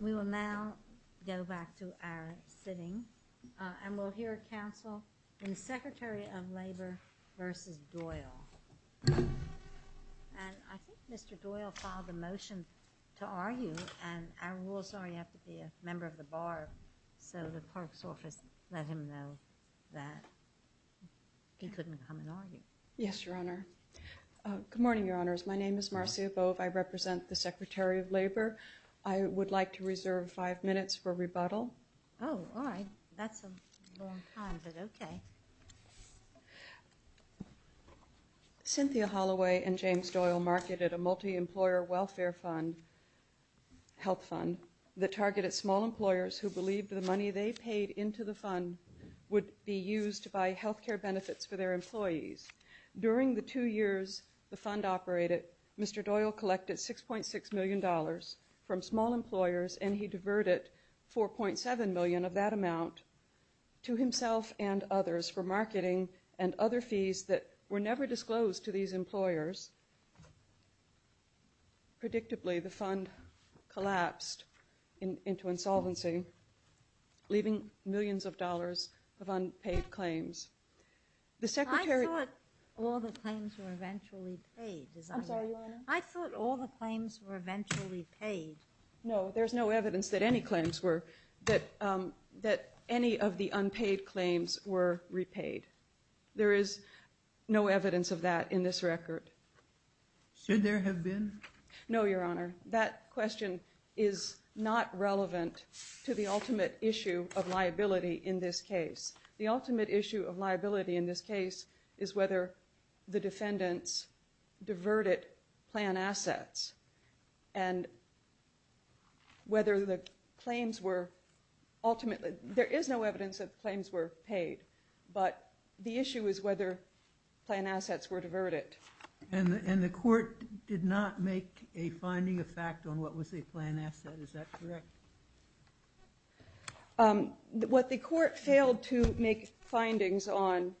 We will now go back to our sitting, and we'll hear counsel in Secretary of Labor v. Doyle. And I think Mr. Doyle filed a motion to argue, and our rules are you have to be a member of the bar, so the clerk's office let him know that he couldn't come and argue. Yes, Your Honor. Good morning, Your Honors. My name is Marcia Bove. I represent the Secretary of Labor. I would like to reserve five minutes for rebuttal. Oh, all right. That's a long time, but okay. Cynthia Holloway and James Doyle marketed a multi-employer welfare fund, health fund, that targeted small employers who believed the money they paid into the fund would be used to buy health care benefits for their employees. During the two years the fund operated, Mr. Doyle collected $6.6 million from small employers, and he diverted $4.7 million of that amount to himself and others for marketing and other fees that were never disclosed to these employers. Predictably, the fund collapsed into insolvency, leaving millions of dollars of unpaid claims. I thought all the claims were eventually paid. I'm sorry, Your Honor? I thought all the claims were eventually paid. No, there's no evidence that any of the unpaid claims were repaid. There is no evidence of that in this record. Should there have been? No, Your Honor. That question is not relevant to the ultimate issue of liability in this case. The ultimate issue of liability in this case is whether the defendants diverted plan assets and whether the claims were ultimately, there is no evidence that the claims were paid, but the issue is whether plan assets were diverted. And the court did not make a finding of fact on what was a plan asset, is that correct? What the court failed to make findings on,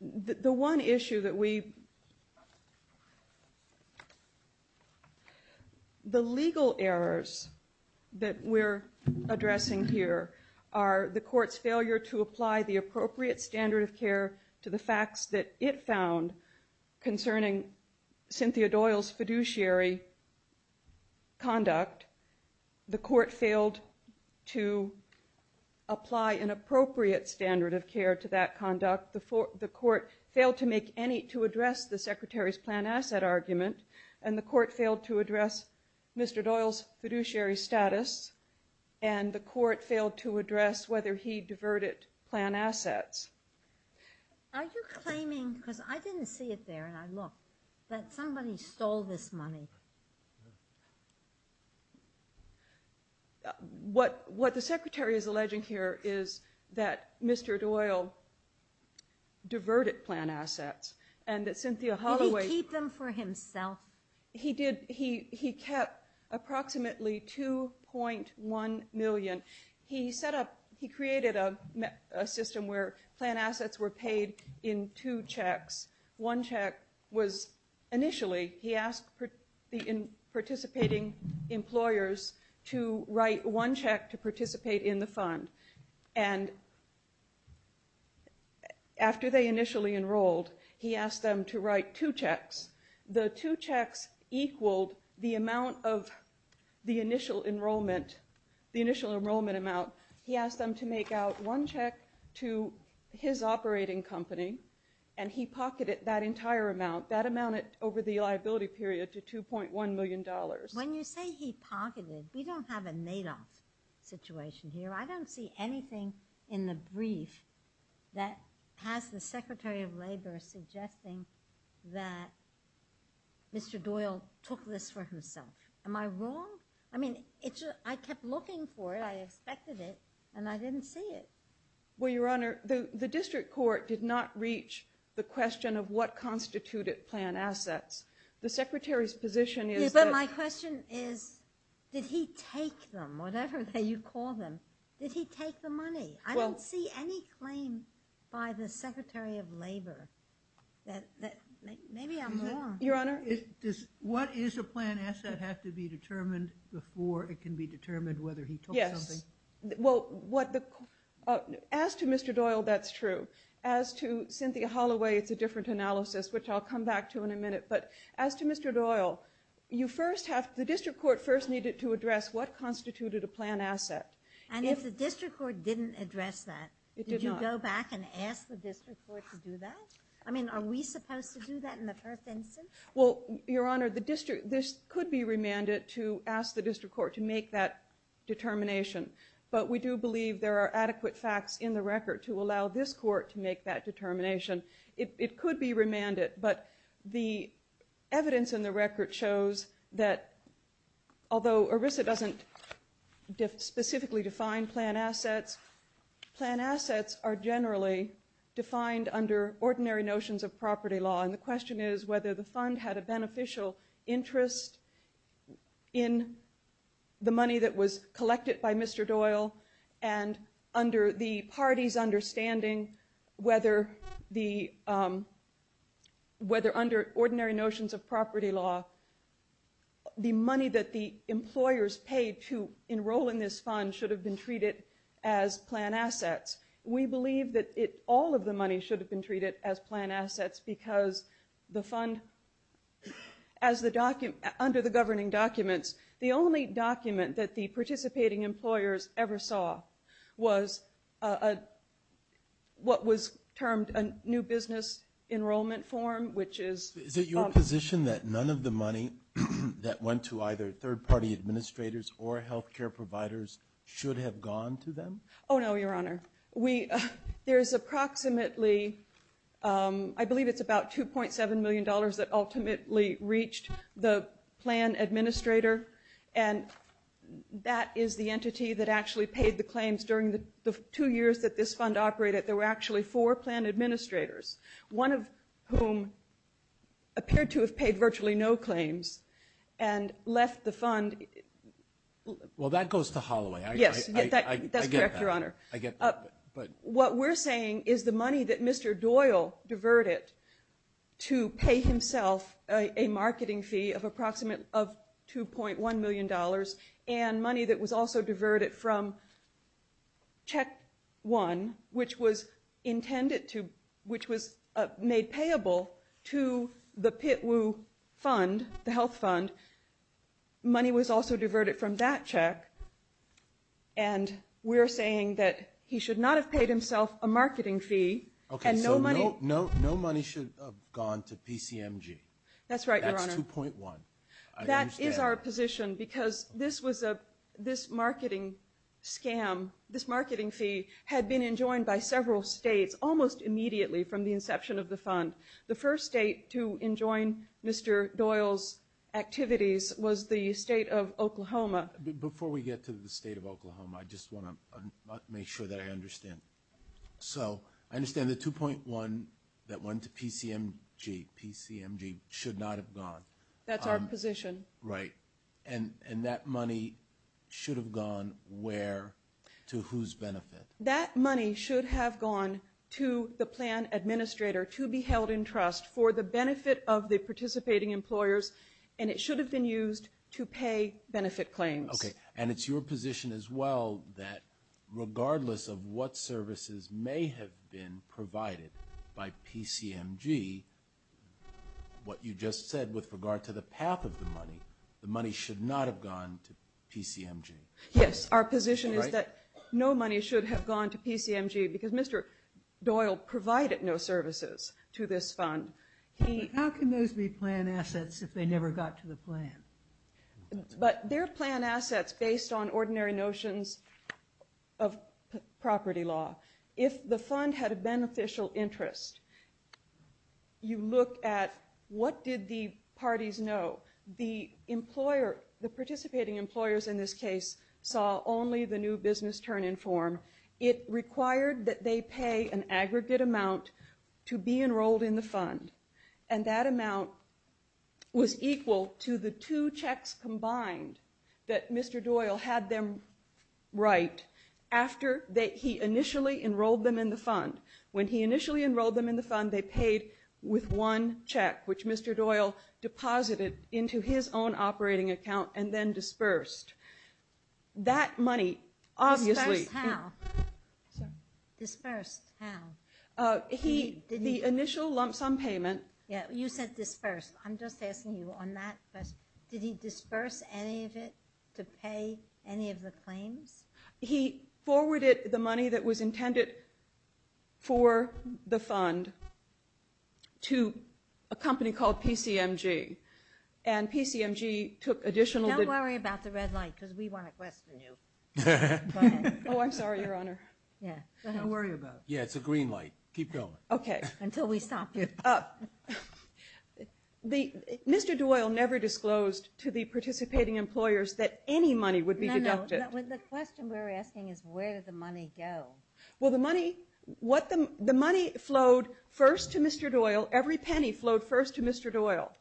the one issue that we, the legal errors that we're addressing here are the court's failure to apply the appropriate standard of care to the facts that it found concerning Cynthia Doyle's fiduciary conduct. The court failed to apply an appropriate standard of care to that conduct. The court failed to make any, to address the secretary's plan asset argument, and the court failed to address Mr. Doyle's fiduciary status, and the court failed to address whether he diverted plan assets. Are you claiming, because I didn't see it there and I looked, that somebody stole this money? What the secretary is alleging here is that Mr. Doyle diverted plan assets and that Cynthia Holloway Did he keep them for himself? He kept approximately 2.1 million. He set up, he created a system where plan assets were paid in two checks. One check was initially, he asked the participating employers to write one check to participate in the fund. And after they initially enrolled, he asked them to write two checks. The two checks equaled the amount of the initial enrollment, the initial enrollment amount. He asked them to make out one check to his operating company, and he pocketed that entire amount, that amount over the liability period, to 2.1 million dollars. When you say he pocketed, we don't have a made-up situation here. I don't see anything in the brief that has the Secretary of Labor suggesting that Mr. Doyle took this for himself. Am I wrong? I mean, I kept looking for it. I expected it, and I didn't see it. Well, Your Honor, the district court did not reach the question of what constituted plan assets. The secretary's position is that My question is, did he take them, whatever you call them? Did he take the money? I don't see any claim by the Secretary of Labor that maybe I'm wrong. Your Honor? Does what is a plan asset have to be determined before it can be determined whether he took something? Yes. Well, as to Mr. Doyle, that's true. As to Cynthia Holloway, it's a different analysis, which I'll come back to in a minute. But as to Mr. Doyle, the district court first needed to address what constituted a plan asset. And if the district court didn't address that, did you go back and ask the district court to do that? I mean, are we supposed to do that in the first instance? Well, Your Honor, this could be remanded to ask the district court to make that determination. But we do believe there are adequate facts in the record to allow this court to make that determination. It could be remanded, but the evidence in the record shows that although ERISA doesn't specifically define plan assets, plan assets are generally defined under ordinary notions of property law. And the question is whether the fund had a beneficial interest in the money that was collected by Mr. Doyle and under the party's understanding whether under ordinary notions of property law, the money that the employers paid to enroll in this fund should have been treated as plan assets. We believe that all of the money should have been treated as plan assets because the fund, under the governing documents, the only document that the participating employers ever saw was what was termed a new business enrollment form, which is- Is it your position that none of the money that went to either third-party administrators or health care providers should have gone to them? Oh, no, Your Honor. There is approximately, I believe it's about $2.7 million that ultimately reached the plan administrator, and that is the entity that actually paid the claims during the two years that this fund operated. There were actually four plan administrators, one of whom appeared to have paid virtually no claims and left the fund. Well, that goes to Holloway. Yes, that's correct, Your Honor. I get that, but- What we're saying is the money that Mr. Doyle diverted to pay himself a marketing fee of approximately $2.1 million and money that was also diverted from Check One, which was intended to- the Pitwoo Fund, the health fund, money was also diverted from that check, and we're saying that he should not have paid himself a marketing fee and no money- Okay, so no money should have gone to PCMG. That's right, Your Honor. That's 2.1. I understand. That is our position because this marketing scam, this marketing fee, had been enjoined by several states almost immediately from the inception of the fund. The first state to enjoin Mr. Doyle's activities was the state of Oklahoma. Before we get to the state of Oklahoma, I just want to make sure that I understand. So I understand the 2.1 that went to PCMG should not have gone. That's our position. Right. And that money should have gone where? To whose benefit? That money should have gone to the plan administrator to be held in trust for the benefit of the participating employers, and it should have been used to pay benefit claims. Okay, and it's your position as well that regardless of what services may have been provided by PCMG, what you just said with regard to the path of the money, the money should not have gone to PCMG. Yes, our position is that no money should have gone to PCMG because Mr. Doyle provided no services to this fund. How can those be plan assets if they never got to the plan? But they're plan assets based on ordinary notions of property law. If the fund had a beneficial interest, you look at what did the parties know. The participating employers in this case saw only the new business turn in form. It required that they pay an aggregate amount to be enrolled in the fund, and that amount was equal to the two checks combined that Mr. Doyle had them write after he initially enrolled them in the fund. When he initially enrolled them in the fund, they paid with one check, which Mr. Doyle deposited into his own operating account and then disbursed. That money obviously... Disbursed how? The initial lump sum payment... Yeah, you said disbursed. I'm just asking you on that question. Did he disburse any of it to pay any of the claims? He forwarded the money that was intended for the fund to a company called PCMG, and PCMG took additional... Don't worry about the red light because we want to question you. Oh, I'm sorry, Your Honor. Don't worry about it. Yeah, it's a green light. Keep going. Okay. Until we stop you. Mr. Doyle never disclosed to the participating employers that any money would be deducted. The question we're asking is where did the money go? Well, the money flowed first to Mr. Doyle. Every penny flowed first to Mr. Doyle,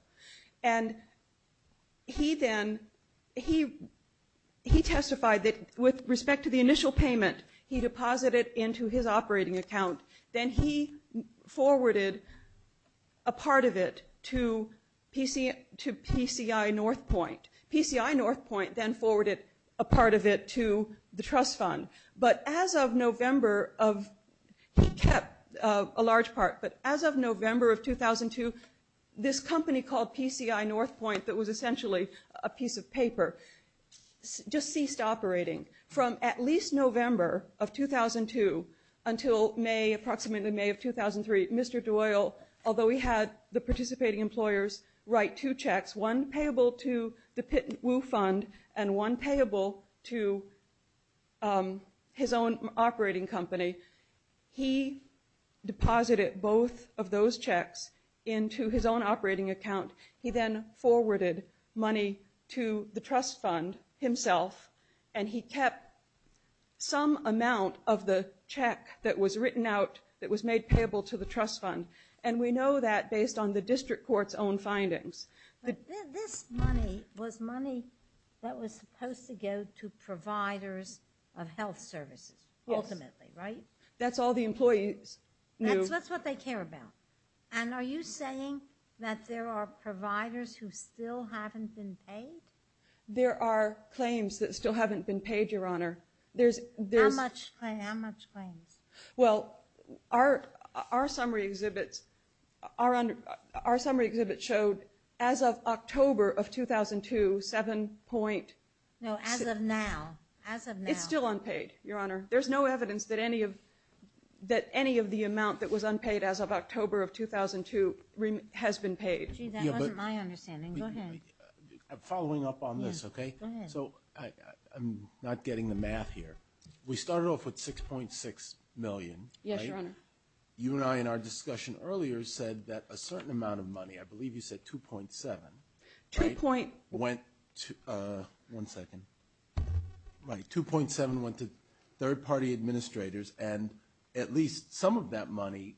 and he testified that with respect to the initial payment, he deposited it into his operating account. Then he forwarded a part of it to PCI Northpoint. PCI Northpoint then forwarded a part of it to the trust fund. But as of November of... He kept a large part, but as of November of 2002, this company called PCI Northpoint that was essentially a piece of paper just ceased operating. From at least November of 2002 until May, approximately May of 2003, Mr. Doyle, although he had the participating employers write two checks, one payable to the Pitt & Wu Fund and one payable to his own operating company, he deposited both of those checks into his own operating account. He then forwarded money to the trust fund himself, and he kept some amount of the check that was written out that was made payable to the trust fund. And we know that based on the district court's own findings. But this money was money that was supposed to go to providers of health services ultimately, right? Yes. That's all the employees knew. That's what they care about. And are you saying that there are providers who still haven't been paid? There are claims that still haven't been paid, Your Honor. How much claims? Well, our summary exhibits showed as of October of 2002, 7.6. No, as of now. As of now. It's still unpaid, Your Honor. There's no evidence that any of the amount that was unpaid as of October of 2002 has been paid. Gee, that wasn't my understanding. Go ahead. I'm following up on this, okay? Go ahead. So I'm not getting the math here. We started off with $6.6 million, right? Yes, Your Honor. You and I in our discussion earlier said that a certain amount of money, I believe you said $2.7 million, right? $2.7 million went to third-party administrators. And at least some of that money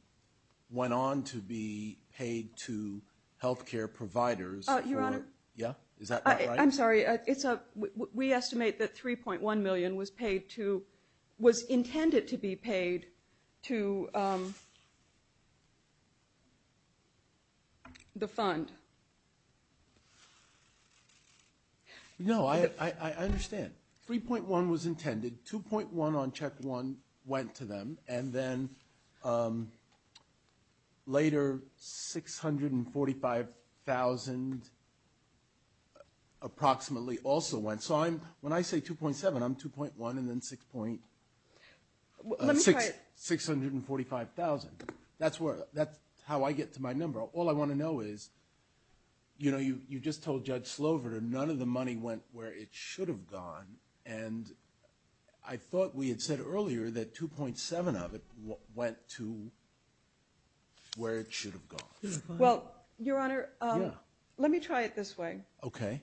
went on to be paid to health care providers. Yeah? Is that not right? I'm sorry. We estimate that $3.1 million was intended to be paid to the fund. No, I understand. $3.1 was intended. $2.1 on check one went to them, and then later $645,000 approximately also went. So when I say $2.7, I'm $2.1 and then $645,000. That's how I get to my number. All I want to know is, you know, you just told Judge Slover that none of the money went where it should have gone. And I thought we had said earlier that $2.7 of it went to where it should have gone. Well, Your Honor, let me try it this way. Okay.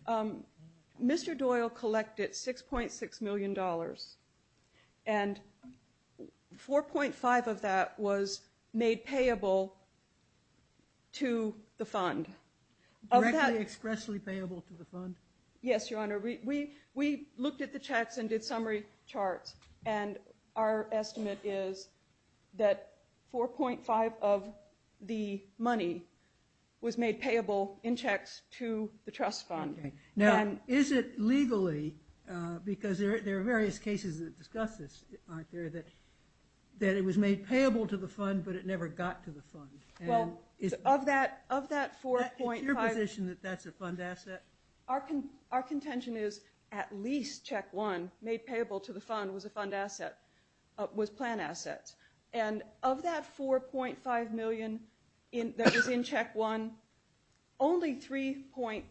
Mr. Doyle collected $6.6 million, and $4.5 of that was made payable to the fund. Directly, expressly payable to the fund? Yes, Your Honor. We looked at the checks and did summary charts, and our estimate is that $4.5 of the money was made payable in checks to the trust fund. Okay. Now, is it legally, because there are various cases that discuss this, aren't there, that it was made payable to the fund, but it never got to the fund? Well, of that $4.5 Is it your position that that's a fund asset? Our contention is at least check one made payable to the fund was a fund asset, was plan assets. And of that $4.5 million that was in check one, only 3.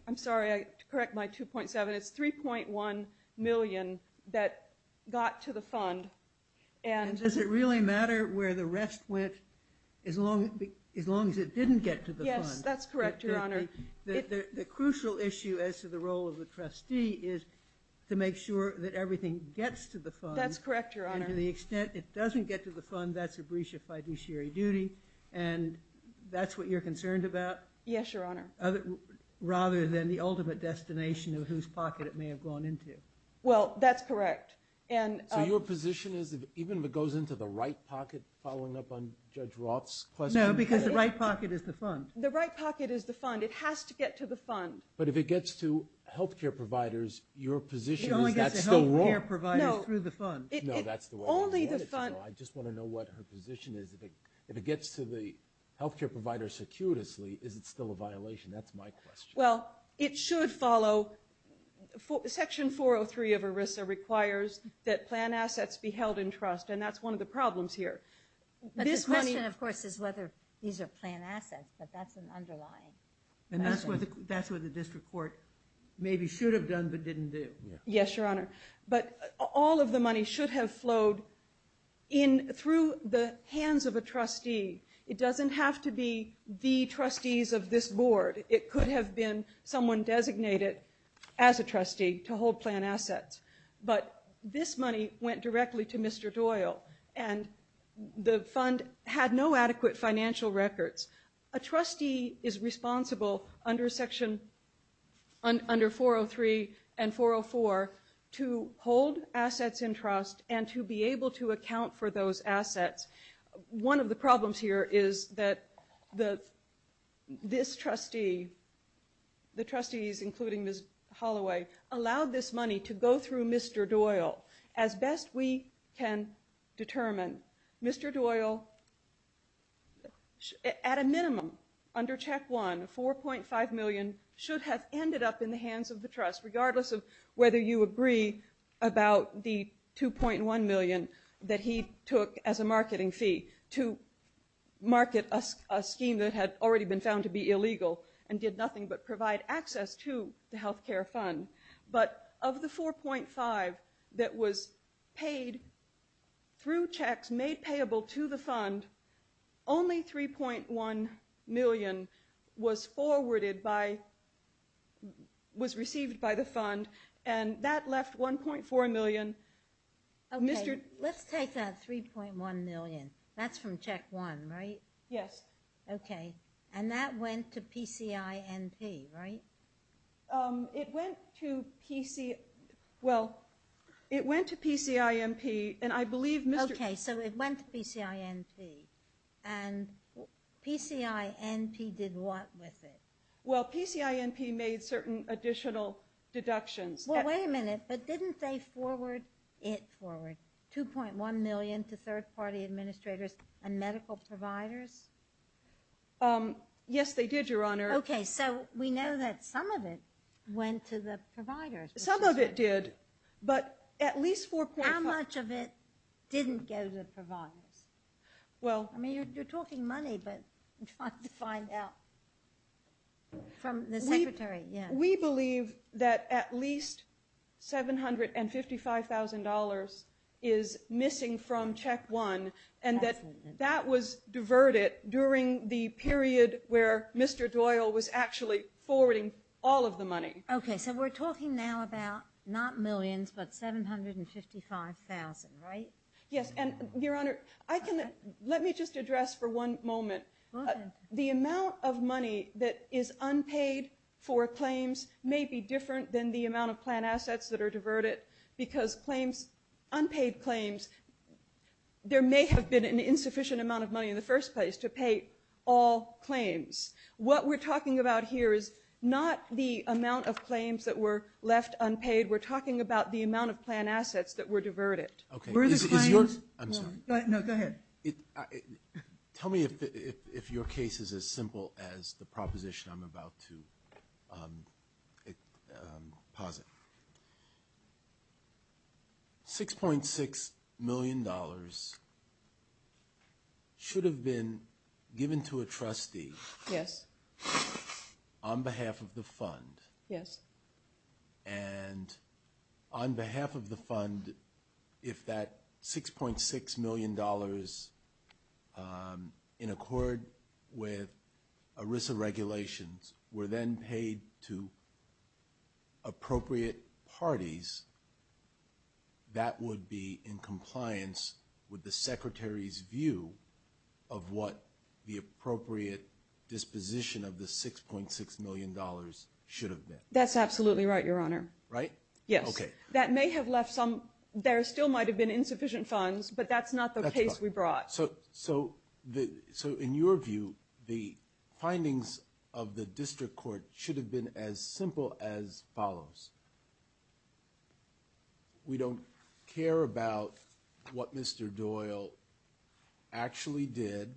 I'm sorry, I correct my 2.7. It's $3.1 million that got to the fund. And does it really matter where the rest went as long as it didn't get to the fund? Yes, that's correct, Your Honor. The crucial issue as to the role of the trustee is to make sure that everything gets to the fund. That's correct, Your Honor. And to the extent it doesn't get to the fund, that's a breach of fiduciary duty, and that's what you're concerned about? Yes, Your Honor. Rather than the ultimate destination of whose pocket it may have gone into. Well, that's correct. So your position is that even if it goes into the right pocket, following up on Judge Roth's question? No, because the right pocket is the fund. The right pocket is the fund. It has to get to the fund. But if it gets to health care providers, your position is that's still wrong? It only gets to health care providers through the fund. No, that's the way I wanted to go. I just want to know what her position is. If it gets to the health care providers circuitously, is it still a violation? That's my question. Well, it should follow. Section 403 of ERISA requires that plan assets be held in trust, and that's one of the problems here. But the question, of course, is whether these are plan assets, but that's an underlying question. And that's what the district court maybe should have done but didn't do. Yes, Your Honor. But all of the money should have flowed through the hands of a trustee. It doesn't have to be the trustees of this board. It could have been someone designated as a trustee to hold plan assets. But this money went directly to Mr. Doyle, and the fund had no adequate financial records. A trustee is responsible under Section 403 and 404 to hold assets in trust and to be able to account for those assets. One of the problems here is that this trustee, the trustees including Ms. Holloway, allowed this money to go through Mr. Doyle. As best we can determine, Mr. Doyle, at a minimum, under Check 1, $4.5 million should have ended up in the hands of the trust, regardless of whether you agree about the $2.1 million that he took as a marketing fee to market a scheme that had already been found to be illegal and did nothing but provide access to the health care fund. But of the $4.5 million that was paid through checks made payable to the fund, only $3.1 million was received by the fund, and that left $1.4 million. Okay, let's take that $3.1 million. That's from Check 1, right? Yes. Okay, and that went to PCINP, right? It went to PCINP, and I believe Mr. Okay, so it went to PCINP, and PCINP did what with it? Well, PCINP made certain additional deductions. Well, wait a minute, but didn't they forward it forward, $2.1 million to third-party administrators and medical providers? Yes, they did, Your Honor. Okay, so we know that some of it went to the providers. Some of it did, but at least $4.5 How much of it didn't go to the providers? Well I mean, you're talking money, but I'm trying to find out. From the Secretary, yes. We believe that at least $755,000 is missing from Check 1, and that that was diverted during the period where Mr. Doyle was actually forwarding all of the money. Okay, so we're talking now about not millions, but $755,000, right? Yes, and Your Honor, let me just address for one moment. The amount of money that is unpaid for claims may be different than the amount of planned assets that are diverted, because unpaid claims, there may have been an insufficient amount of money in the first place to pay all claims. What we're talking about here is not the amount of claims that were left unpaid. We're talking about the amount of planned assets that were diverted. Okay, is your I'm sorry. No, go ahead. Tell me if your case is as simple as the proposition I'm about to posit. $6.6 million should have been given to a trustee Yes. on behalf of the fund. Yes. And on behalf of the fund, if that $6.6 million in accord with ERISA regulations were then paid to appropriate parties, that would be in compliance with the Secretary's view of what the appropriate disposition of the $6.6 million should have been. That's absolutely right, Your Honor. Right? Yes. Okay. That may have left some, there still might have been insufficient funds, but that's not the case we brought. So in your view, the findings of the district court should have been as simple as follows. We don't care about what Mr. Doyle actually did.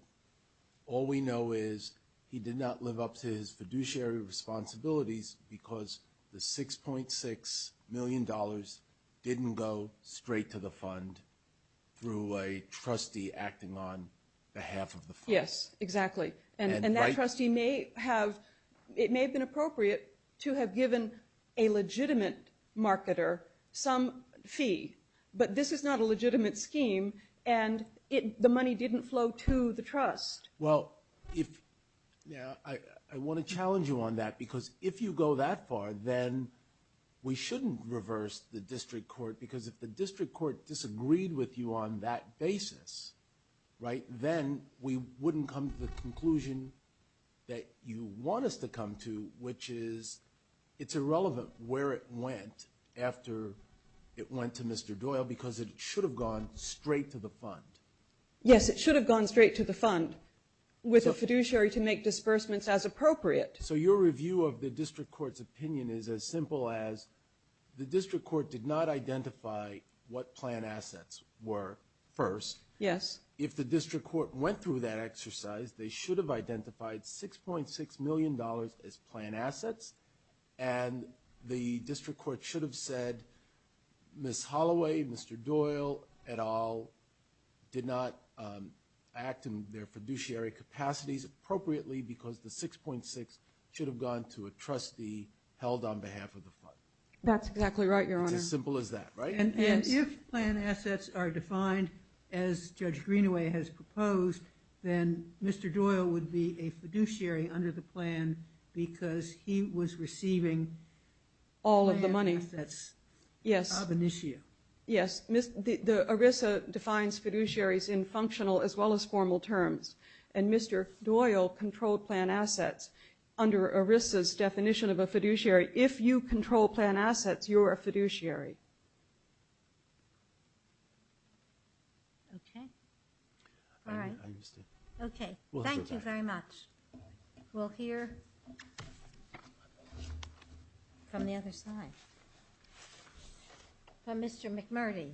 All we know is he did not live up to his fiduciary responsibilities because the $6.6 million didn't go straight to the fund through a trustee acting on behalf of the fund. Yes, exactly. And that trustee may have, it may have been appropriate to have given a legitimate marketer some fee, but this is not a legitimate scheme, and the money didn't flow to the trust. Well, I want to challenge you on that because if you go that far, then we shouldn't reverse the district court because if the district court disagreed with you on that basis, then we wouldn't come to the conclusion that you want us to come to, which is it's irrelevant where it went after it went to Mr. Doyle because it should have gone straight to the fund. Yes, it should have gone straight to the fund with a fiduciary to make disbursements as appropriate. So your review of the district court's opinion is as simple as the district court did not identify what plan assets were first. Yes. If the district court went through that exercise, they should have identified $6.6 million as plan assets, and the district court should have said, Ms. Holloway, Mr. Doyle, et al. did not act in their fiduciary capacities appropriately because the 6.6 should have gone to a trustee held on behalf of the fund. That's exactly right, Your Honor. It's as simple as that, right? And if plan assets are defined as Judge Greenaway has proposed, then Mr. Doyle would be a fiduciary under the plan because he was receiving plan assets. All of the money. Yes. Yes. The ERISA defines fiduciaries in functional as well as formal terms, and Mr. Doyle controlled plan assets under ERISA's definition of a fiduciary. If you control plan assets, you're a fiduciary. Okay. All right. Okay. Thank you very much. We'll hear from the other side. From Mr. McMurdy.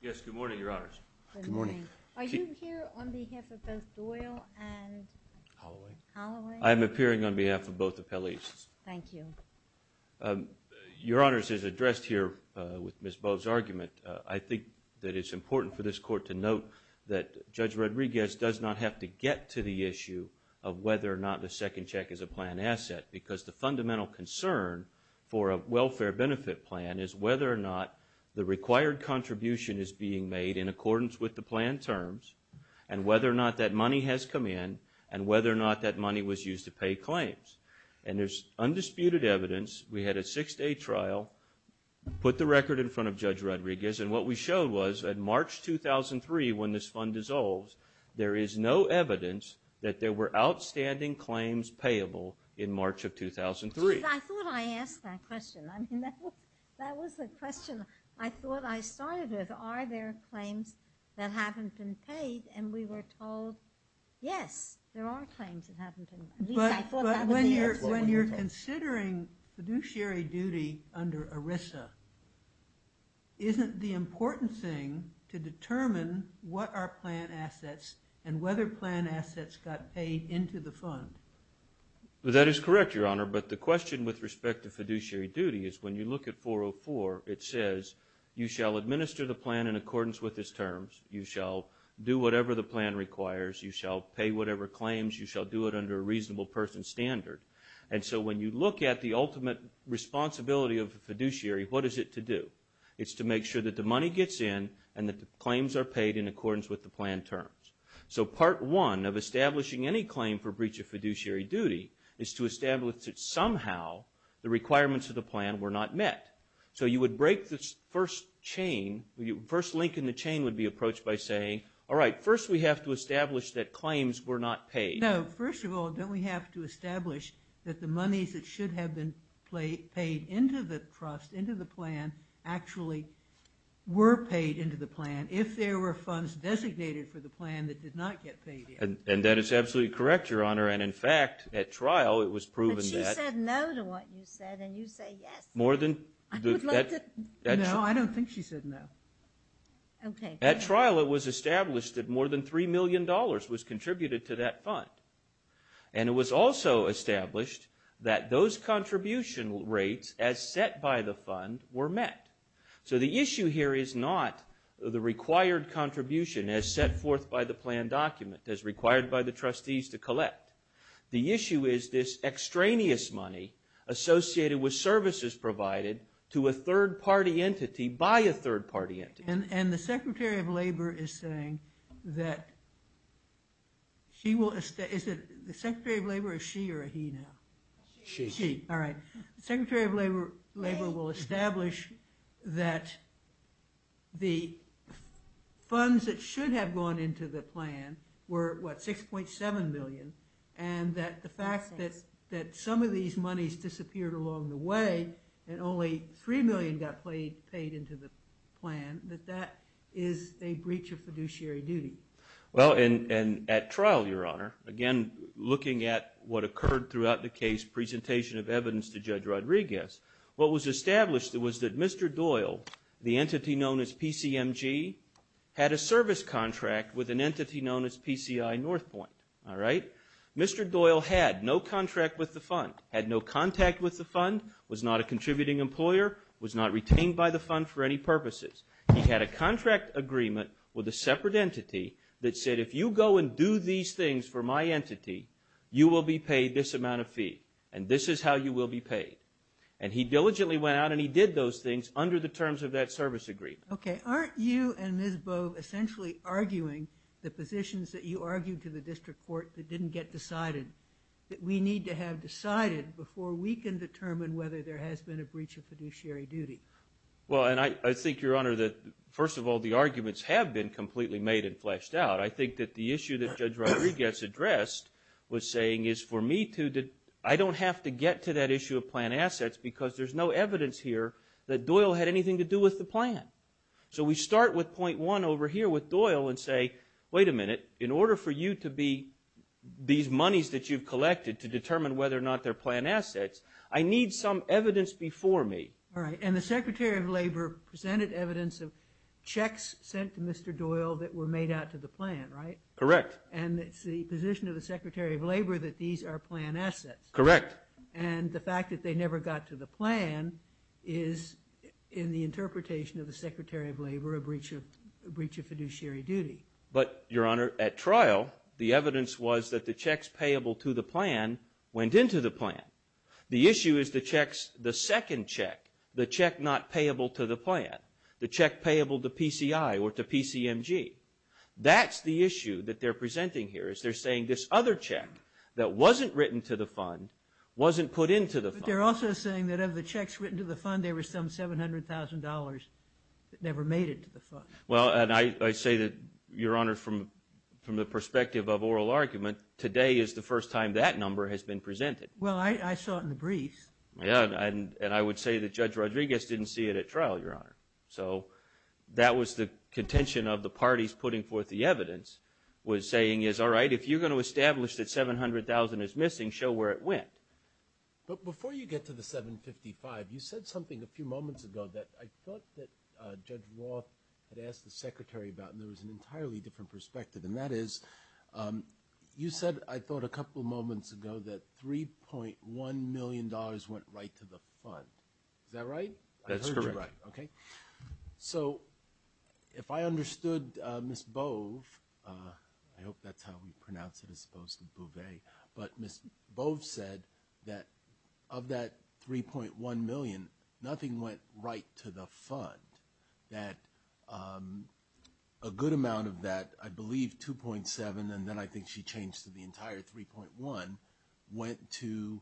Yes, good morning, Your Honors. Good morning. Are you here on behalf of both Doyle and Holloway? I'm appearing on behalf of both appellees. Thank you. Your Honors, as addressed here with Ms. Bowe's argument, I think that it's important for this Court to note that Judge Rodriguez does not have to get to the issue of whether or not the second check is a plan asset because the fundamental concern for a welfare benefit plan is whether or not the required contribution is being made in accordance with the plan terms and whether or not that money has come in and whether or not that money was used to pay claims. And there's undisputed evidence. We had a six-day trial, put the record in front of Judge Rodriguez, and what we showed was that March 2003, when this fund dissolves, there is no evidence that there were outstanding claims payable in March of 2003. I thought I asked that question. I mean, that was a question I thought I started with. Are there claims that haven't been paid? And we were told, yes, there are claims that haven't been paid. But when you're considering fiduciary duty under ERISA, isn't the important thing to determine what are plan assets and whether plan assets got paid into the fund? That is correct, Your Honor, but the question with respect to fiduciary duty is when you look at 404, it says, you shall administer the plan in accordance with its terms. You shall do whatever the plan requires. You shall pay whatever claims. You shall do it under a reasonable person's standard. And so when you look at the ultimate responsibility of the fiduciary, what is it to do? It's to make sure that the money gets in and that the claims are paid in accordance with the plan terms. So part one of establishing any claim for breach of fiduciary duty is to establish that somehow the requirements of the plan were not met. So you would break this first chain. The first link in the chain would be approached by saying, all right, first we have to establish that claims were not paid. No, first of all, don't we have to establish that the monies that should have been paid into the trust, into the plan, actually were paid into the plan if there were funds designated for the plan that did not get paid in? And that is absolutely correct, Your Honor, and in fact at trial it was proven that... But she said no to what you said and you say yes. I would like to... No, I don't think she said no. Okay. At trial it was established that more than $3 million was contributed to that fund, and it was also established that those contribution rates as set by the fund were met. So the issue here is not the required contribution as set forth by the plan document, as required by the trustees to collect. The issue is this extraneous money associated with services provided to a third-party entity by a third-party entity. And the Secretary of Labor is saying that she will... Is it the Secretary of Labor or she or he now? She. She, all right. The Secretary of Labor will establish that the funds that should have gone into the plan were, what, $6.7 million, and that the fact that some of these monies disappeared along the way and only $3 million got paid into the plan, that that is a breach of fiduciary duty. Well, and at trial, Your Honor, again looking at what occurred throughout the case presentation of evidence to Judge Rodriguez, what was established was that Mr. Doyle, the entity known as PCMG, had a service contract with an entity known as PCI Northpointe. All right? Mr. Doyle had no contract with the fund, had no contact with the fund, was not a contributing employer, was not retained by the fund for any purposes. He had a contract agreement with a separate entity that said, if you go and do these things for my entity, you will be paid this amount of fee, and this is how you will be paid. And he diligently went out and he did those things under the terms of that service agreement. Okay. Aren't you and Ms. Bove essentially arguing the positions that you argued to the district court that didn't get decided, that we need to have decided before we can determine whether there has been a breach of fiduciary duty? Well, and I think, Your Honor, that first of all, the arguments have been completely made and fleshed out. I think that the issue that Judge Rodriguez addressed was saying is for me to... I don't have to get to that issue of planned assets because there's no evidence here that Doyle had anything to do with the plan. So we start with point one over here with Doyle and say, wait a minute, in order for you to be... that you've collected to determine whether or not they're planned assets, I need some evidence before me. All right, and the Secretary of Labor presented evidence of checks sent to Mr. Doyle that were made out to the plan, right? Correct. And it's the position of the Secretary of Labor that these are planned assets. Correct. And the fact that they never got to the plan is in the interpretation of the Secretary of Labor a breach of fiduciary duty. But, Your Honor, at trial, the evidence was that the checks payable to the plan went into the plan. The issue is the checks... the second check, the check not payable to the plan, the check payable to PCI or to PCMG. That's the issue that they're presenting here is they're saying this other check that wasn't written to the fund wasn't put into the fund. But they're also saying that of the checks written to the fund, there was some $700,000 that never made it to the fund. Well, and I say that, Your Honor, from the perspective of oral argument, today is the first time that number has been presented. Well, I saw it in the briefs. Yeah, and I would say that Judge Rodriguez didn't see it at trial, Your Honor. So that was the contention of the parties putting forth the evidence was saying, all right, if you're going to establish that $700,000 is missing, show where it went. But before you get to the $755,000, you said something a few moments ago that I thought that Judge Roth had asked the Secretary about, and there was an entirely different perspective, and that is you said, I thought a couple moments ago, that $3.1 million went right to the fund. Is that right? That's correct. Okay. So if I understood Ms. Bove, I hope that's how we pronounce it as opposed to Bouvet, but Ms. Bove said that of that $3.1 million, nothing went right to the fund, that a good amount of that, I believe 2.7, and then I think she changed to the entire 3.1, went to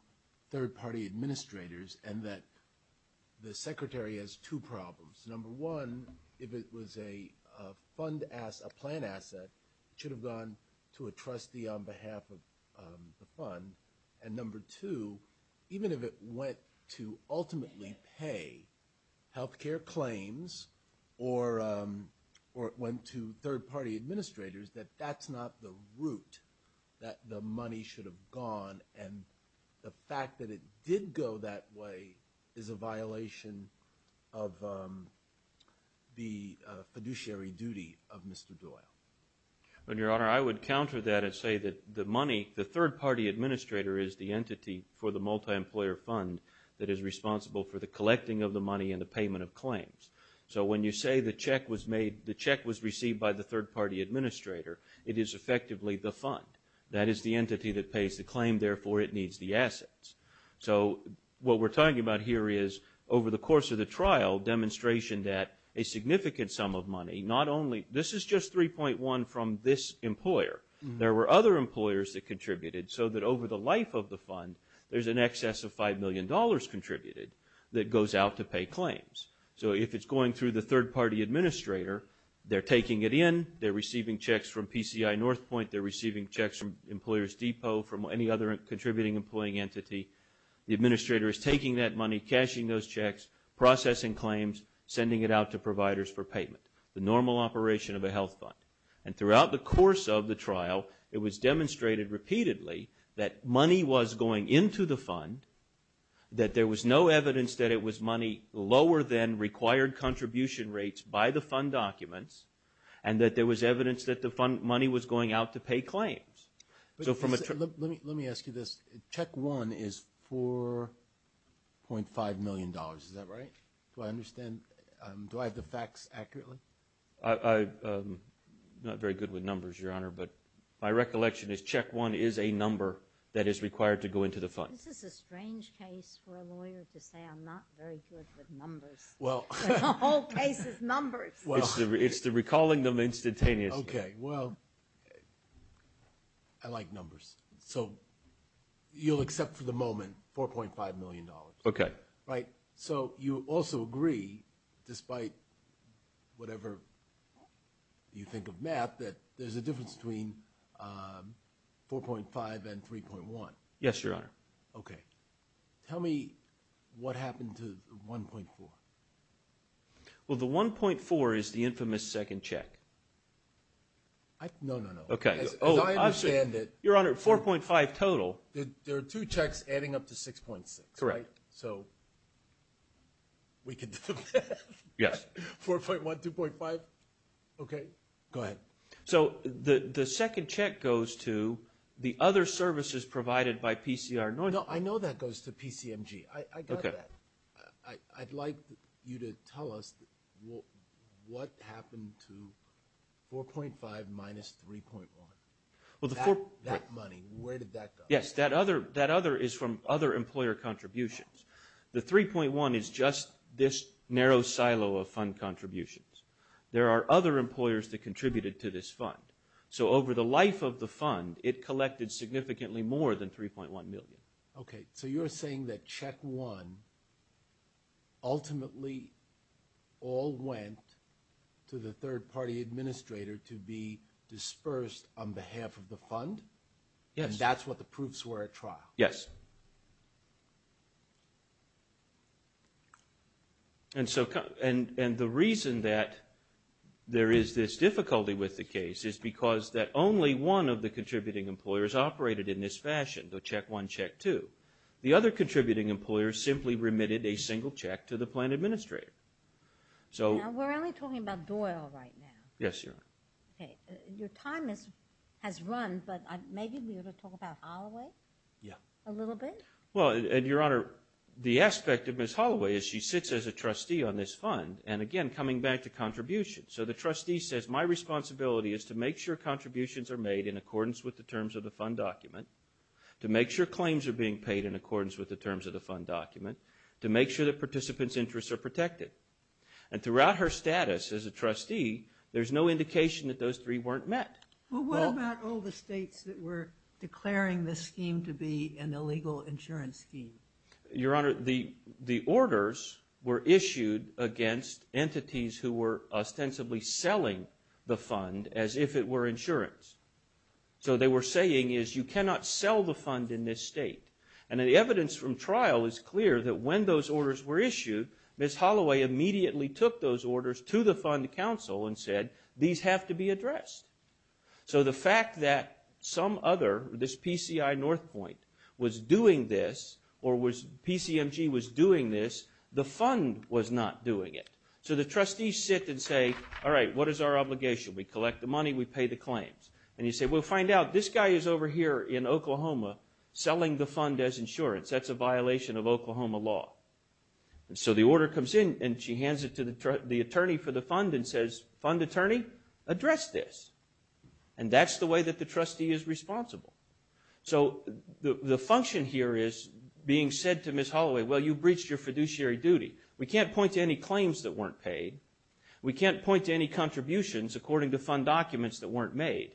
third-party administrators, and that the Secretary has two problems. Number one, if it was a fund asset, a plan asset, it should have gone to a trustee on behalf of the fund, and number two, even if it went to ultimately pay health care claims or it went to third-party administrators, that that's not the route that the money should have gone, and the fact that it did go that way is a violation of the fiduciary duty of Mr. Doyle. Your Honor, I would counter that and say that the money, the third-party administrator is the entity for the multi-employer fund that is responsible for the collecting of the money and the payment of claims. So when you say the check was made, the check was received by the third-party administrator, it is effectively the fund. That is the entity that pays the claim, therefore it needs the assets. So what we're talking about here is, over the course of the trial, demonstration that a significant sum of money, not only, this is just 3.1 from this employer. There were other employers that contributed so that over the life of the fund, there's an excess of $5 million contributed that goes out to pay claims. So if it's going through the third-party administrator, they're taking it in, they're receiving checks from PCI Northpointe, they're receiving checks from Employers Depot, from any other contributing employing entity. The administrator is taking that money, cashing those checks, processing claims, sending it out to providers for payment. The normal operation of a health fund. And throughout the course of the trial, it was demonstrated repeatedly that money was going into the fund, that there was no evidence that it was money lower than required contribution rates by the fund documents, and that there was evidence that the money was going out to pay claims. Let me ask you this. Check 1 is $4.5 million, is that right? I'm not very good with numbers, Your Honor, but my recollection is check 1 is a number that is required to go into the fund. This is a strange case for a lawyer to say I'm not very good with numbers. The whole case is numbers. It's the recalling them instantaneously. Okay, well, I like numbers. So you'll accept for the moment $4.5 million. Okay. Right? So you also agree, despite whatever you think of math, that there's a difference between $4.5 and $3.1? Yes, Your Honor. Okay. Tell me what happened to $1.4? Well, the $1.4 is the infamous second check. No, no, no. Okay. As I understand it... Your Honor, $4.5 total... There are two checks adding up to $6.6, right? Correct. So we can do that? Yes. $4.1, $2.5? Okay. Go ahead. So the second check goes to the other services provided by PCR... No, I know that goes to PCMG. I got that. I'd like you to tell us what happened to $4.5 minus $3.1. That money, where did that go? Yes, that other is from other employer contributions. The $3.1 is just this narrow silo of fund contributions. There are other employers that contributed to this fund. So over the life of the fund, it collected significantly more than $3.1 million. Okay. So you're saying that check one ultimately all went to the third-party administrator to be dispersed on behalf of the fund? Yes. And that's what the proofs were at trial? Yes. And the reason that there is this difficulty with the case is because that only one of the contributing employers operated in this fashion, the check one, check two. The other contributing employer simply remitted a single check to the plan administrator. Now, we're only talking about Doyle right now. Yes, Your Honor. Okay. Your time has run, but maybe we ought to talk about Holloway a little bit? Well, Your Honor, the aspect of Ms. Holloway is she sits as a trustee on this fund and, again, coming back to contributions. So the trustee says my responsibility is to make sure contributions are made in accordance with the terms of the fund document, to make sure claims are being paid in accordance with the terms of the fund document, to make sure that participants' interests are protected. And throughout her status as a trustee, there's no indication that those three weren't met. Well, what about all the states that were declaring this scheme to be an illegal insurance scheme? Your Honor, the orders were issued against entities who were ostensibly selling the fund as if it were insurance. So they were saying is you cannot sell the fund in this state. And the evidence from trial is clear that when those orders were issued, Ms. Holloway immediately took those orders to the fund council and said these have to be addressed. So the fact that some other, this PCI Northpointe, was doing this or PCMG was doing this, the fund was not doing it. So the trustees sit and say, all right, what is our obligation? We collect the money, we pay the claims. And you say, well, find out, this guy is over here in Oklahoma selling the fund as insurance. That's a violation of Oklahoma law. So the order comes in and she hands it to the attorney for the fund and says, fund attorney, address this. And that's the way that the trustee is responsible. So the function here is being said to Ms. Holloway, well, you breached your fiduciary duty. We can't point to any claims that weren't paid. We can't point to any contributions according to fund documents that weren't made.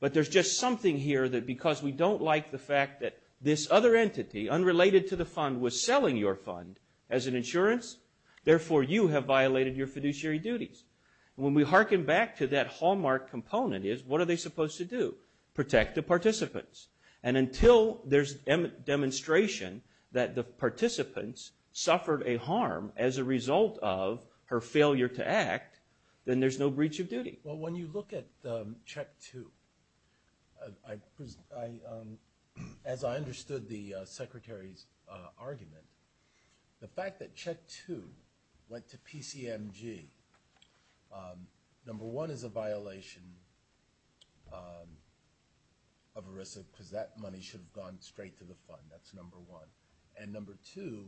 But there's just something here that because we don't like the fact that this other entity, unrelated to the fund, was selling your fund as an insurance, therefore you have violated your fiduciary duties. And when we hearken back to that hallmark component is, what are they supposed to do? Protect the participants. And until there's demonstration that the participants suffered a harm as a result of her failure to act, then there's no breach of duty. Well, when you look at check two, as I understood the Secretary's argument, the fact that check two went to PCMG, number one is a violation of ERISA because that money should have gone straight to the fund. That's number one. And number two,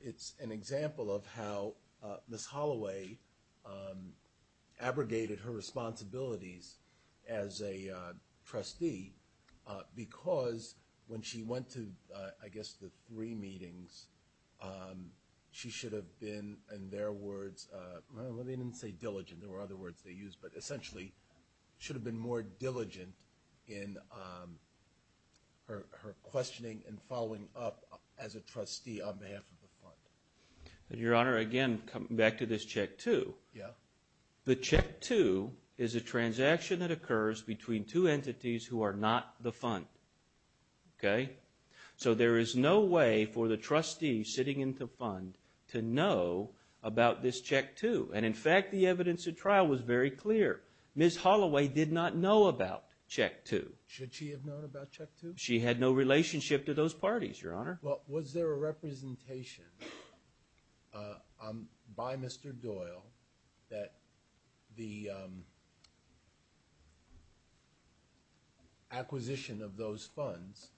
it's an example of how Ms. Holloway abrogated her responsibilities as a trustee because when she went to, I guess, the three meetings, she should have been, in their words, well, they didn't say diligent, there were other words they used, but essentially should have been more diligent in her questioning and following up as a trustee on behalf of the fund. Your Honor, again, back to this check two. Yeah. The check two is a transaction that occurs between two entities who are not the fund. Okay? So there is no way for the trustee sitting in the fund to know about this check two. And, in fact, the evidence at trial was very clear. Ms. Holloway did not know about check two. Should she have known about check two? She had no relationship to those parties, Your Honor. Well, was there a representation by Mr. Doyle that the acquisition of those funds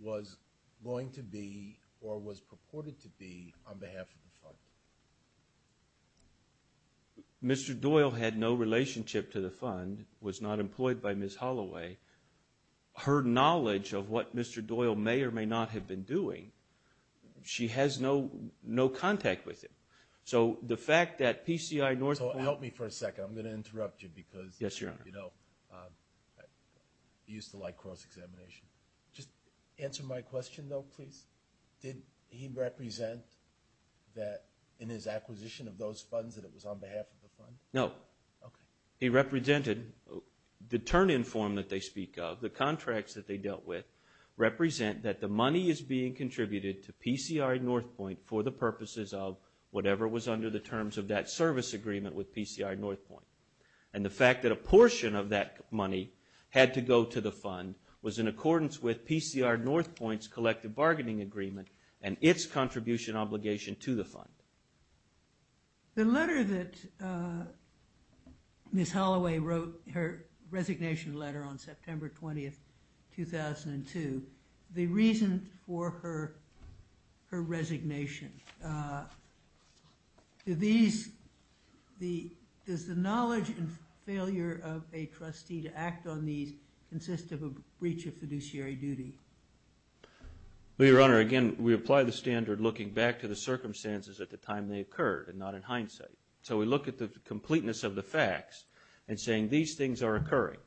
was going to be or was purported to be on behalf of the fund? Mr. Doyle had no relationship to the fund, was not employed by Ms. Holloway. Her knowledge of what Mr. Doyle may or may not have been doing, she has no contact with him. So the fact that PCI North- So help me for a second. I'm going to interrupt you because- Yes, Your Honor. You know, I used to like cross-examination. Just answer my question, though, please. Did he represent that in his acquisition of those funds that it was on behalf of the fund? No. Okay. He represented the turn-in form that they speak of, the contracts that they dealt with, represent that the money is being contributed to PCI Northpointe for the purposes of whatever was under the terms of that service agreement with PCI Northpointe. And the fact that a portion of that money had to go to the fund was in accordance with PCI Northpointe's collective bargaining agreement and its contribution obligation to the fund. The letter that Ms. Holloway wrote, her resignation letter on September 20, 2002, the reason for her resignation, does the knowledge and failure of a trustee to act on these consist of a breach of fiduciary duty? Well, Your Honor, again, we apply the standard looking back to the circumstances at the time they occurred and not in hindsight. So we look at the completeness of the facts and saying these things are occurring.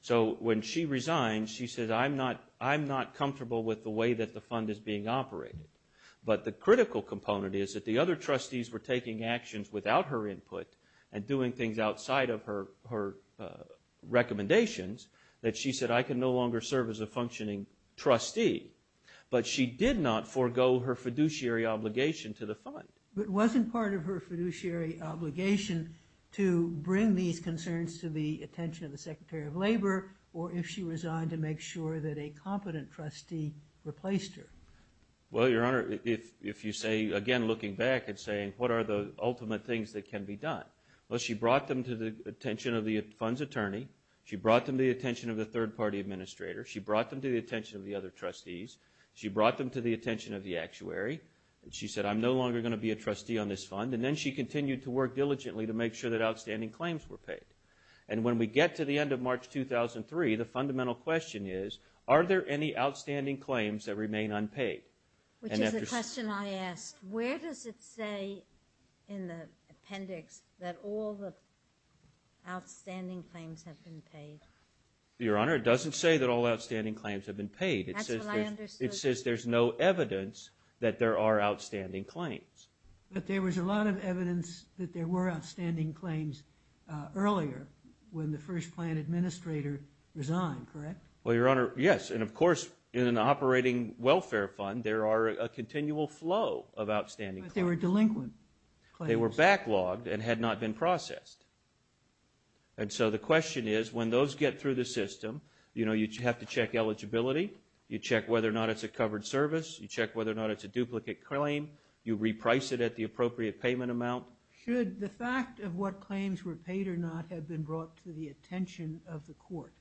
So when she resigned, she said, I'm not comfortable with the way that the fund is being operated. But the critical component is that the other trustees were taking actions without her input and doing things outside of her recommendations that she said, I can no longer serve as a functioning trustee. But she did not forego her fiduciary obligation to the fund. But wasn't part of her fiduciary obligation to bring these concerns to the attention of the Secretary of Labor or if she resigned to make sure that a competent trustee replaced her? Well, Your Honor, if you say, again, looking back and saying, what are the ultimate things that can be done? Well, she brought them to the attention of the fund's attorney. She brought them to the attention of the third-party administrator. She brought them to the attention of the other trustees. She brought them to the attention of the actuary. She said, I'm no longer going to be a trustee on this fund. And then she continued to work diligently to make sure that outstanding claims were paid. And when we get to the end of March 2003, the fundamental question is, are there any outstanding claims that remain unpaid? Which is the question I asked. Where does it say in the appendix that all the outstanding claims have been paid? Your Honor, it doesn't say that all outstanding claims have been paid. That's what I understood. It says there's no evidence that there are outstanding claims. But there was a lot of evidence that there were outstanding claims earlier when the first-plan administrator resigned, correct? Well, Your Honor, yes. And, of course, in an operating welfare fund, there are a continual flow of outstanding claims. But they were delinquent claims. They were backlogged and had not been processed. And so the question is, when those get through the system, you know, you have to check eligibility. You check whether or not it's a covered service. You check whether or not it's a duplicate claim. You reprice it at the appropriate payment amount. Should the fact of what claims were paid or not have been brought to the attention of the court?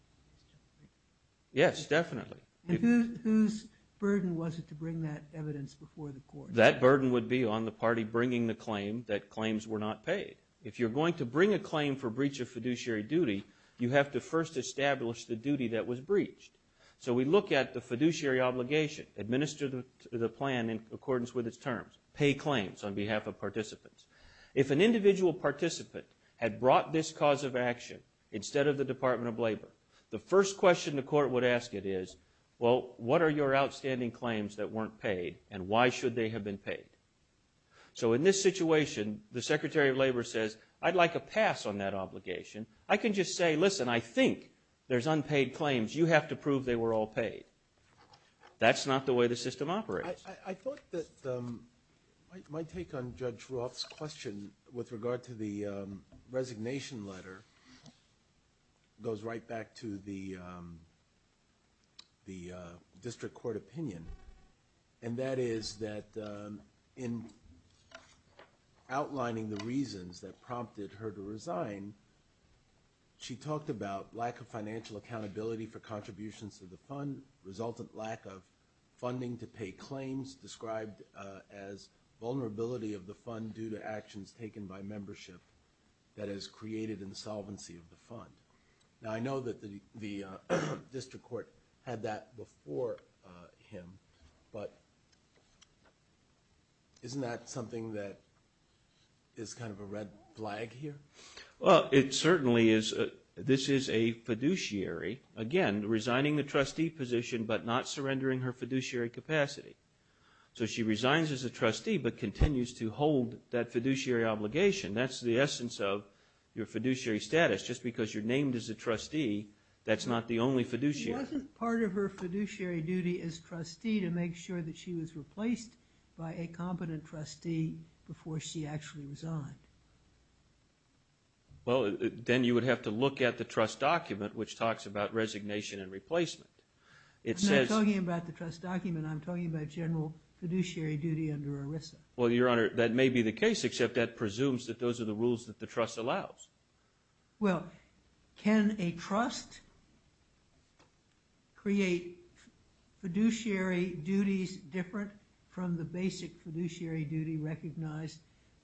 Yes, definitely. And whose burden was it to bring that evidence before the court? That burden would be on the party bringing the claim that claims were not paid. If you're going to bring a claim for breach of fiduciary duty, you have to first establish the duty that was breached. So we look at the fiduciary obligation, administer the plan in accordance with its terms, pay claims on behalf of participants. If an individual participant had brought this cause of action instead of the Department of Labor, the first question the court would ask it is, well, what are your outstanding claims that weren't paid and why should they have been paid? So in this situation, the Secretary of Labor says, I'd like a pass on that obligation. I can just say, listen, I think there's unpaid claims. You have to prove they were all paid. That's not the way the system operates. I thought that my take on Judge Roth's question with regard to the resignation letter goes right back to the district court opinion, and that is that in outlining the reasons that prompted her to resign, she talked about lack of financial accountability for contributions to the fund, resultant lack of funding to pay claims, described as vulnerability of the fund due to actions taken by membership that has created insolvency of the fund. Now, I know that the district court had that before him, but isn't that something that is kind of a red flag here? Well, it certainly is. This is a fiduciary, again, resigning the trustee position but not surrendering her fiduciary capacity. So she resigns as a trustee but continues to hold that fiduciary obligation. That's the essence of your fiduciary status. Just because you're named as a trustee, that's not the only fiduciary. It wasn't part of her fiduciary duty as trustee to make sure that she was replaced by a competent trustee before she actually resigned. Well, then you would have to look at the trust document which talks about resignation and replacement. I'm not talking about the trust document. I'm talking about general fiduciary duty under ERISA. Well, Your Honor, that may be the case, except that presumes that those are the rules that the trust allows. Well, can a trust create fiduciary duties different from the basic fiduciary duty recognized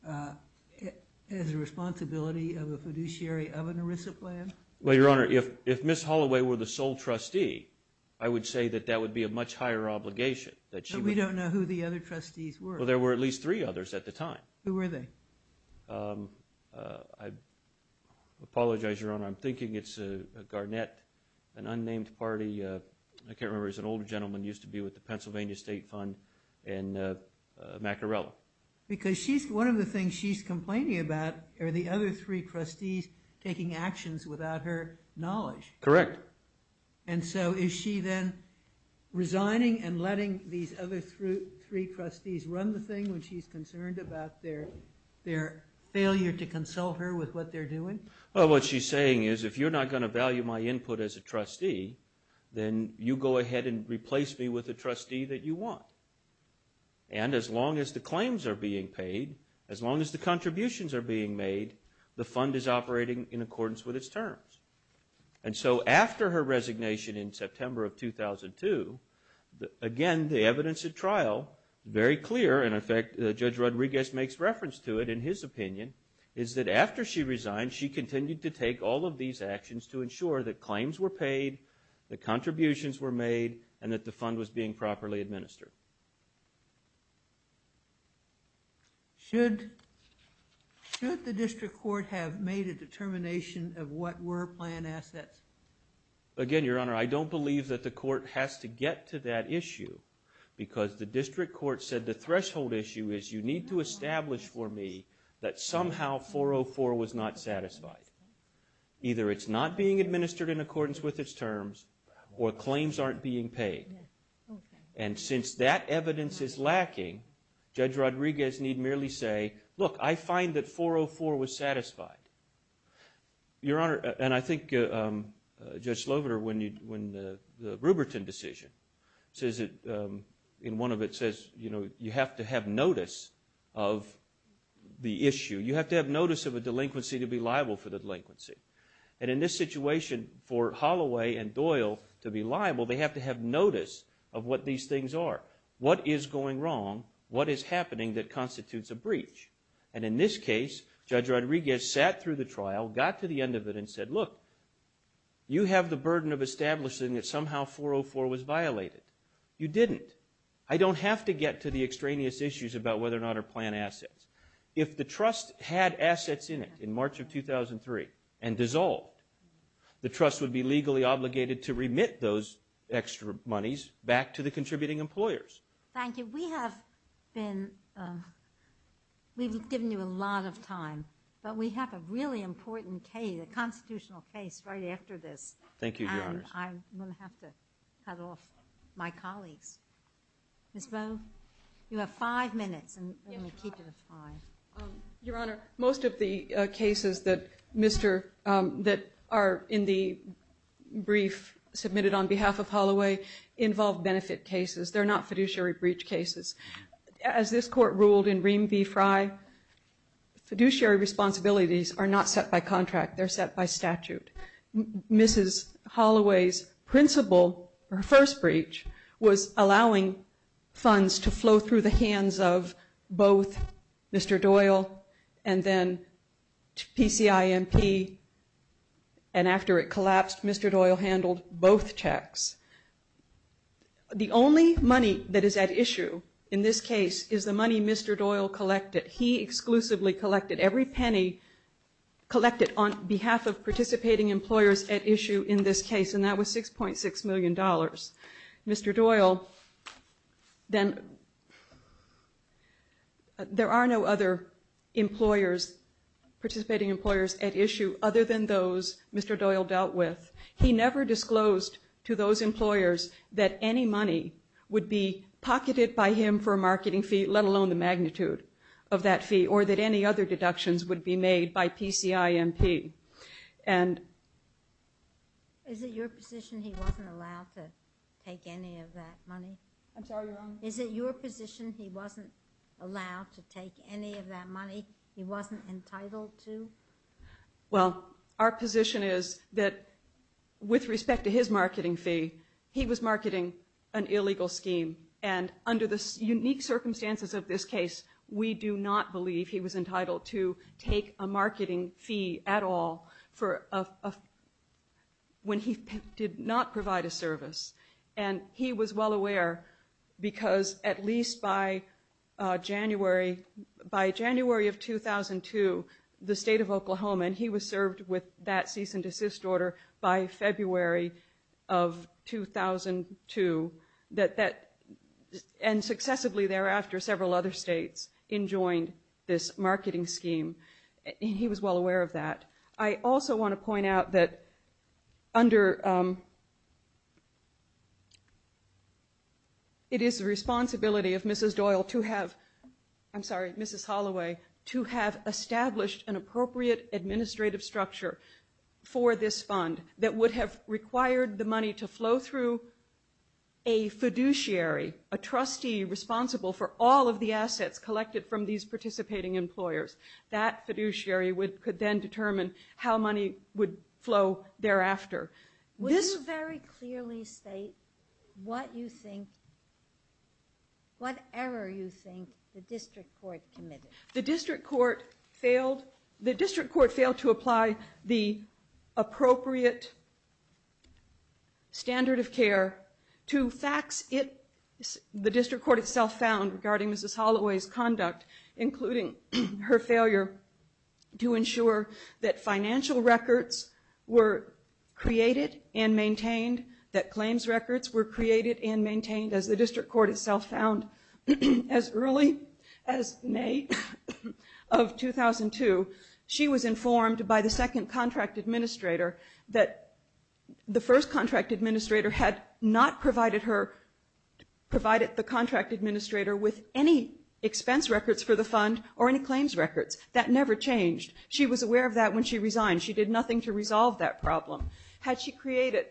as a responsibility of a fiduciary of an ERISA plan? Well, Your Honor, if Ms. Holloway were the sole trustee, I would say that that would be a much higher obligation. But we don't know who the other trustees were. Well, there were at least three others at the time. Who were they? I apologize, Your Honor. I'm thinking it's a garnet, an unnamed party. I can't remember. It's an old gentleman who used to be with the Pennsylvania State Fund and Macarella. Because one of the things she's complaining about are the other three trustees taking actions without her knowledge. Correct. And so is she then resigning and letting these other three trustees run the thing when she's concerned about their failure to consult her with what they're doing? Well, what she's saying is if you're not going to value my input as a trustee, then you go ahead and replace me with a trustee that you want. And as long as the claims are being paid, as long as the contributions are being made, the fund is operating in accordance with its terms. And so after her resignation in September of 2002, again, the evidence at trial, very clear, and in fact Judge Rodriguez makes reference to it in his opinion, is that after she resigned, she continued to take all of these actions to ensure that claims were paid, the contributions were made, and that the fund was being properly administered. Should the district court have made a determination of what were planned assets? Again, Your Honor, I don't believe that the court has to get to that issue because the district court said the threshold issue is you need to establish for me that somehow 404 was not satisfied. Either it's not being administered in accordance with its terms or claims aren't being paid. And since that evidence is lacking, Judge Rodriguez need merely say, look, I find that 404 was satisfied. Your Honor, and I think Judge Sloviter, when the Ruberton decision says it, in one of it says, you know, you have to have notice of the issue. You have to have notice of a delinquency to be liable for the delinquency. And in this situation, for Holloway and Doyle to be liable, they have to have notice of what these things are. What is going wrong? What is happening that constitutes a breach? And in this case, Judge Rodriguez sat through the trial, got to the end of it, and said, look, you have the burden of establishing that somehow 404 was violated. You didn't. I don't have to get to the extraneous issues about whether or not our plan assets. If the trust had assets in it in March of 2003 and dissolved, the trust would be legally obligated to remit those extra monies back to the contributing employers. Thank you. We have been, we've given you a lot of time, but we have a really important case, a constitutional case, right after this. Thank you, Your Honor. I'm going to have to cut off my colleagues. Ms. Bowe, you have five minutes. Let me keep it at five. Your Honor, most of the cases that are in the brief submitted on behalf of Holloway involve benefit cases. They're not fiduciary breach cases. As this Court ruled in Ream v. Fry, fiduciary responsibilities are not set by contract. They're set by statute. Mrs. Holloway's principle, her first breach, was allowing funds to flow through the hands of both Mr. Doyle and then PCIMP, and after it collapsed, Mr. Doyle handled both checks. The only money that is at issue in this case is the money Mr. Doyle collected. He exclusively collected every penny collected on behalf of participating employers at issue in this case, and that was $6.6 million. Mr. Doyle then, there are no other employers, participating employers at issue other than those Mr. Doyle dealt with. He never disclosed to those employers that any money would be pocketed by him for a marketing fee, let alone the magnitude of that fee, or that any other deductions would be made by PCIMP. Is it your position he wasn't allowed to take any of that money? I'm sorry, Your Honor? Is it your position he wasn't allowed to take any of that money, he wasn't entitled to? Well, our position is that with respect to his marketing fee, he was marketing an illegal scheme, and under the unique circumstances of this case, we do not believe he was entitled to take a marketing fee at all when he did not provide a service. And he was well aware because at least by January of 2002, the State of Oklahoma, and he was served with that cease and desist order by February of 2002, and successively thereafter, several other states enjoined this marketing scheme. He was well aware of that. I also want to point out that it is the responsibility of Mrs. Doyle to have, I'm sorry, Mrs. Holloway, to have established an appropriate administrative structure for this fund that would have required the money to flow through a fiduciary, a trustee responsible for all of the assets collected from these participating employers. That fiduciary could then determine how money would flow thereafter. Would you very clearly state what you think, what error you think the district court committed? The district court failed to apply the appropriate standard of care to facts the district court itself found regarding Mrs. Holloway's conduct, including her failure to ensure that financial records were created and maintained, as the district court itself found as early as May of 2002. She was informed by the second contract administrator that the first contract administrator had not provided her, provided the contract administrator with any expense records for the fund or any claims records. That never changed. She was aware of that when she resigned. She did nothing to resolve that problem. Had she created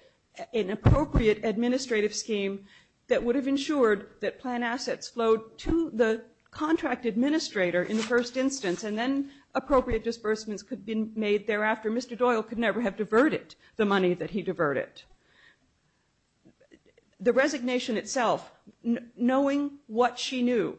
an appropriate administrative scheme that would have ensured that plan assets flowed to the contract administrator in the first instance and then appropriate disbursements could have been made thereafter, Mr. Doyle could never have diverted the money that he diverted. The resignation itself, knowing what she knew,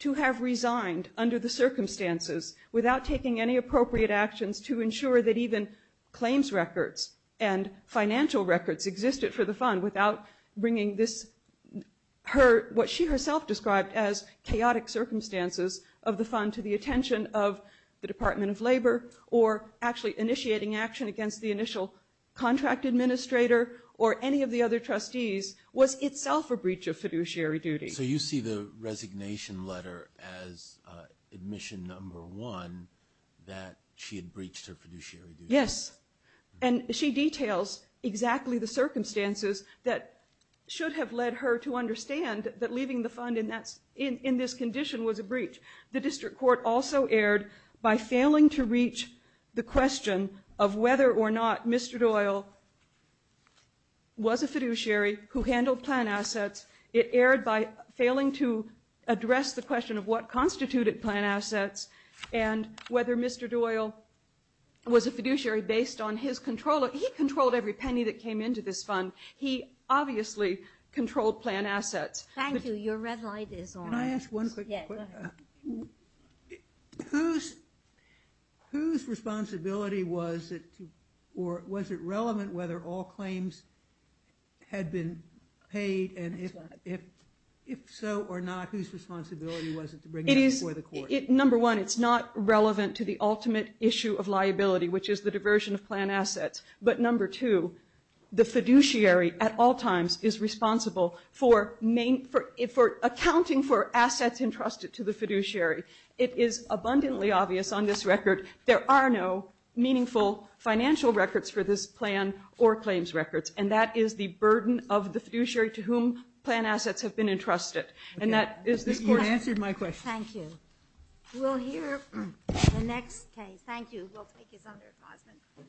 to have resigned under the circumstances without taking any appropriate actions to ensure that even claims records and financial records existed for the fund without bringing what she herself described as chaotic circumstances of the fund to the attention of the Department of Labor or actually initiating action against the initial contract administrator or any of the other trustees was itself a breach of fiduciary duty. So you see the resignation letter as admission number one, that she had breached her fiduciary duty. Yes. And she details exactly the circumstances that should have led her to understand that leaving the fund in this condition was a breach. The district court also erred by failing to reach the question of whether or not Mr. Doyle was a fiduciary who handled plan assets. It erred by failing to address the question of what constituted plan assets and whether Mr. Doyle was a fiduciary based on his control. He controlled every penny that came into this fund. He obviously controlled plan assets. Thank you. Your red light is on. Can I ask one quick question? Yes, go ahead. Whose responsibility was it or was it relevant whether all claims had been paid and if so or not, whose responsibility was it to bring it before the court? Number one, it's not relevant to the ultimate issue of liability, which is the diversion of plan assets. But number two, the fiduciary at all times is responsible for accounting for assets entrusted to the fiduciary. It is abundantly obvious on this record there are no meaningful financial records for this plan or claims records, and that is the burden of the fiduciary to whom plan assets have been entrusted. You answered my question. Thank you. We'll hear the next case. Thank you. We'll take you, Senator Cosman.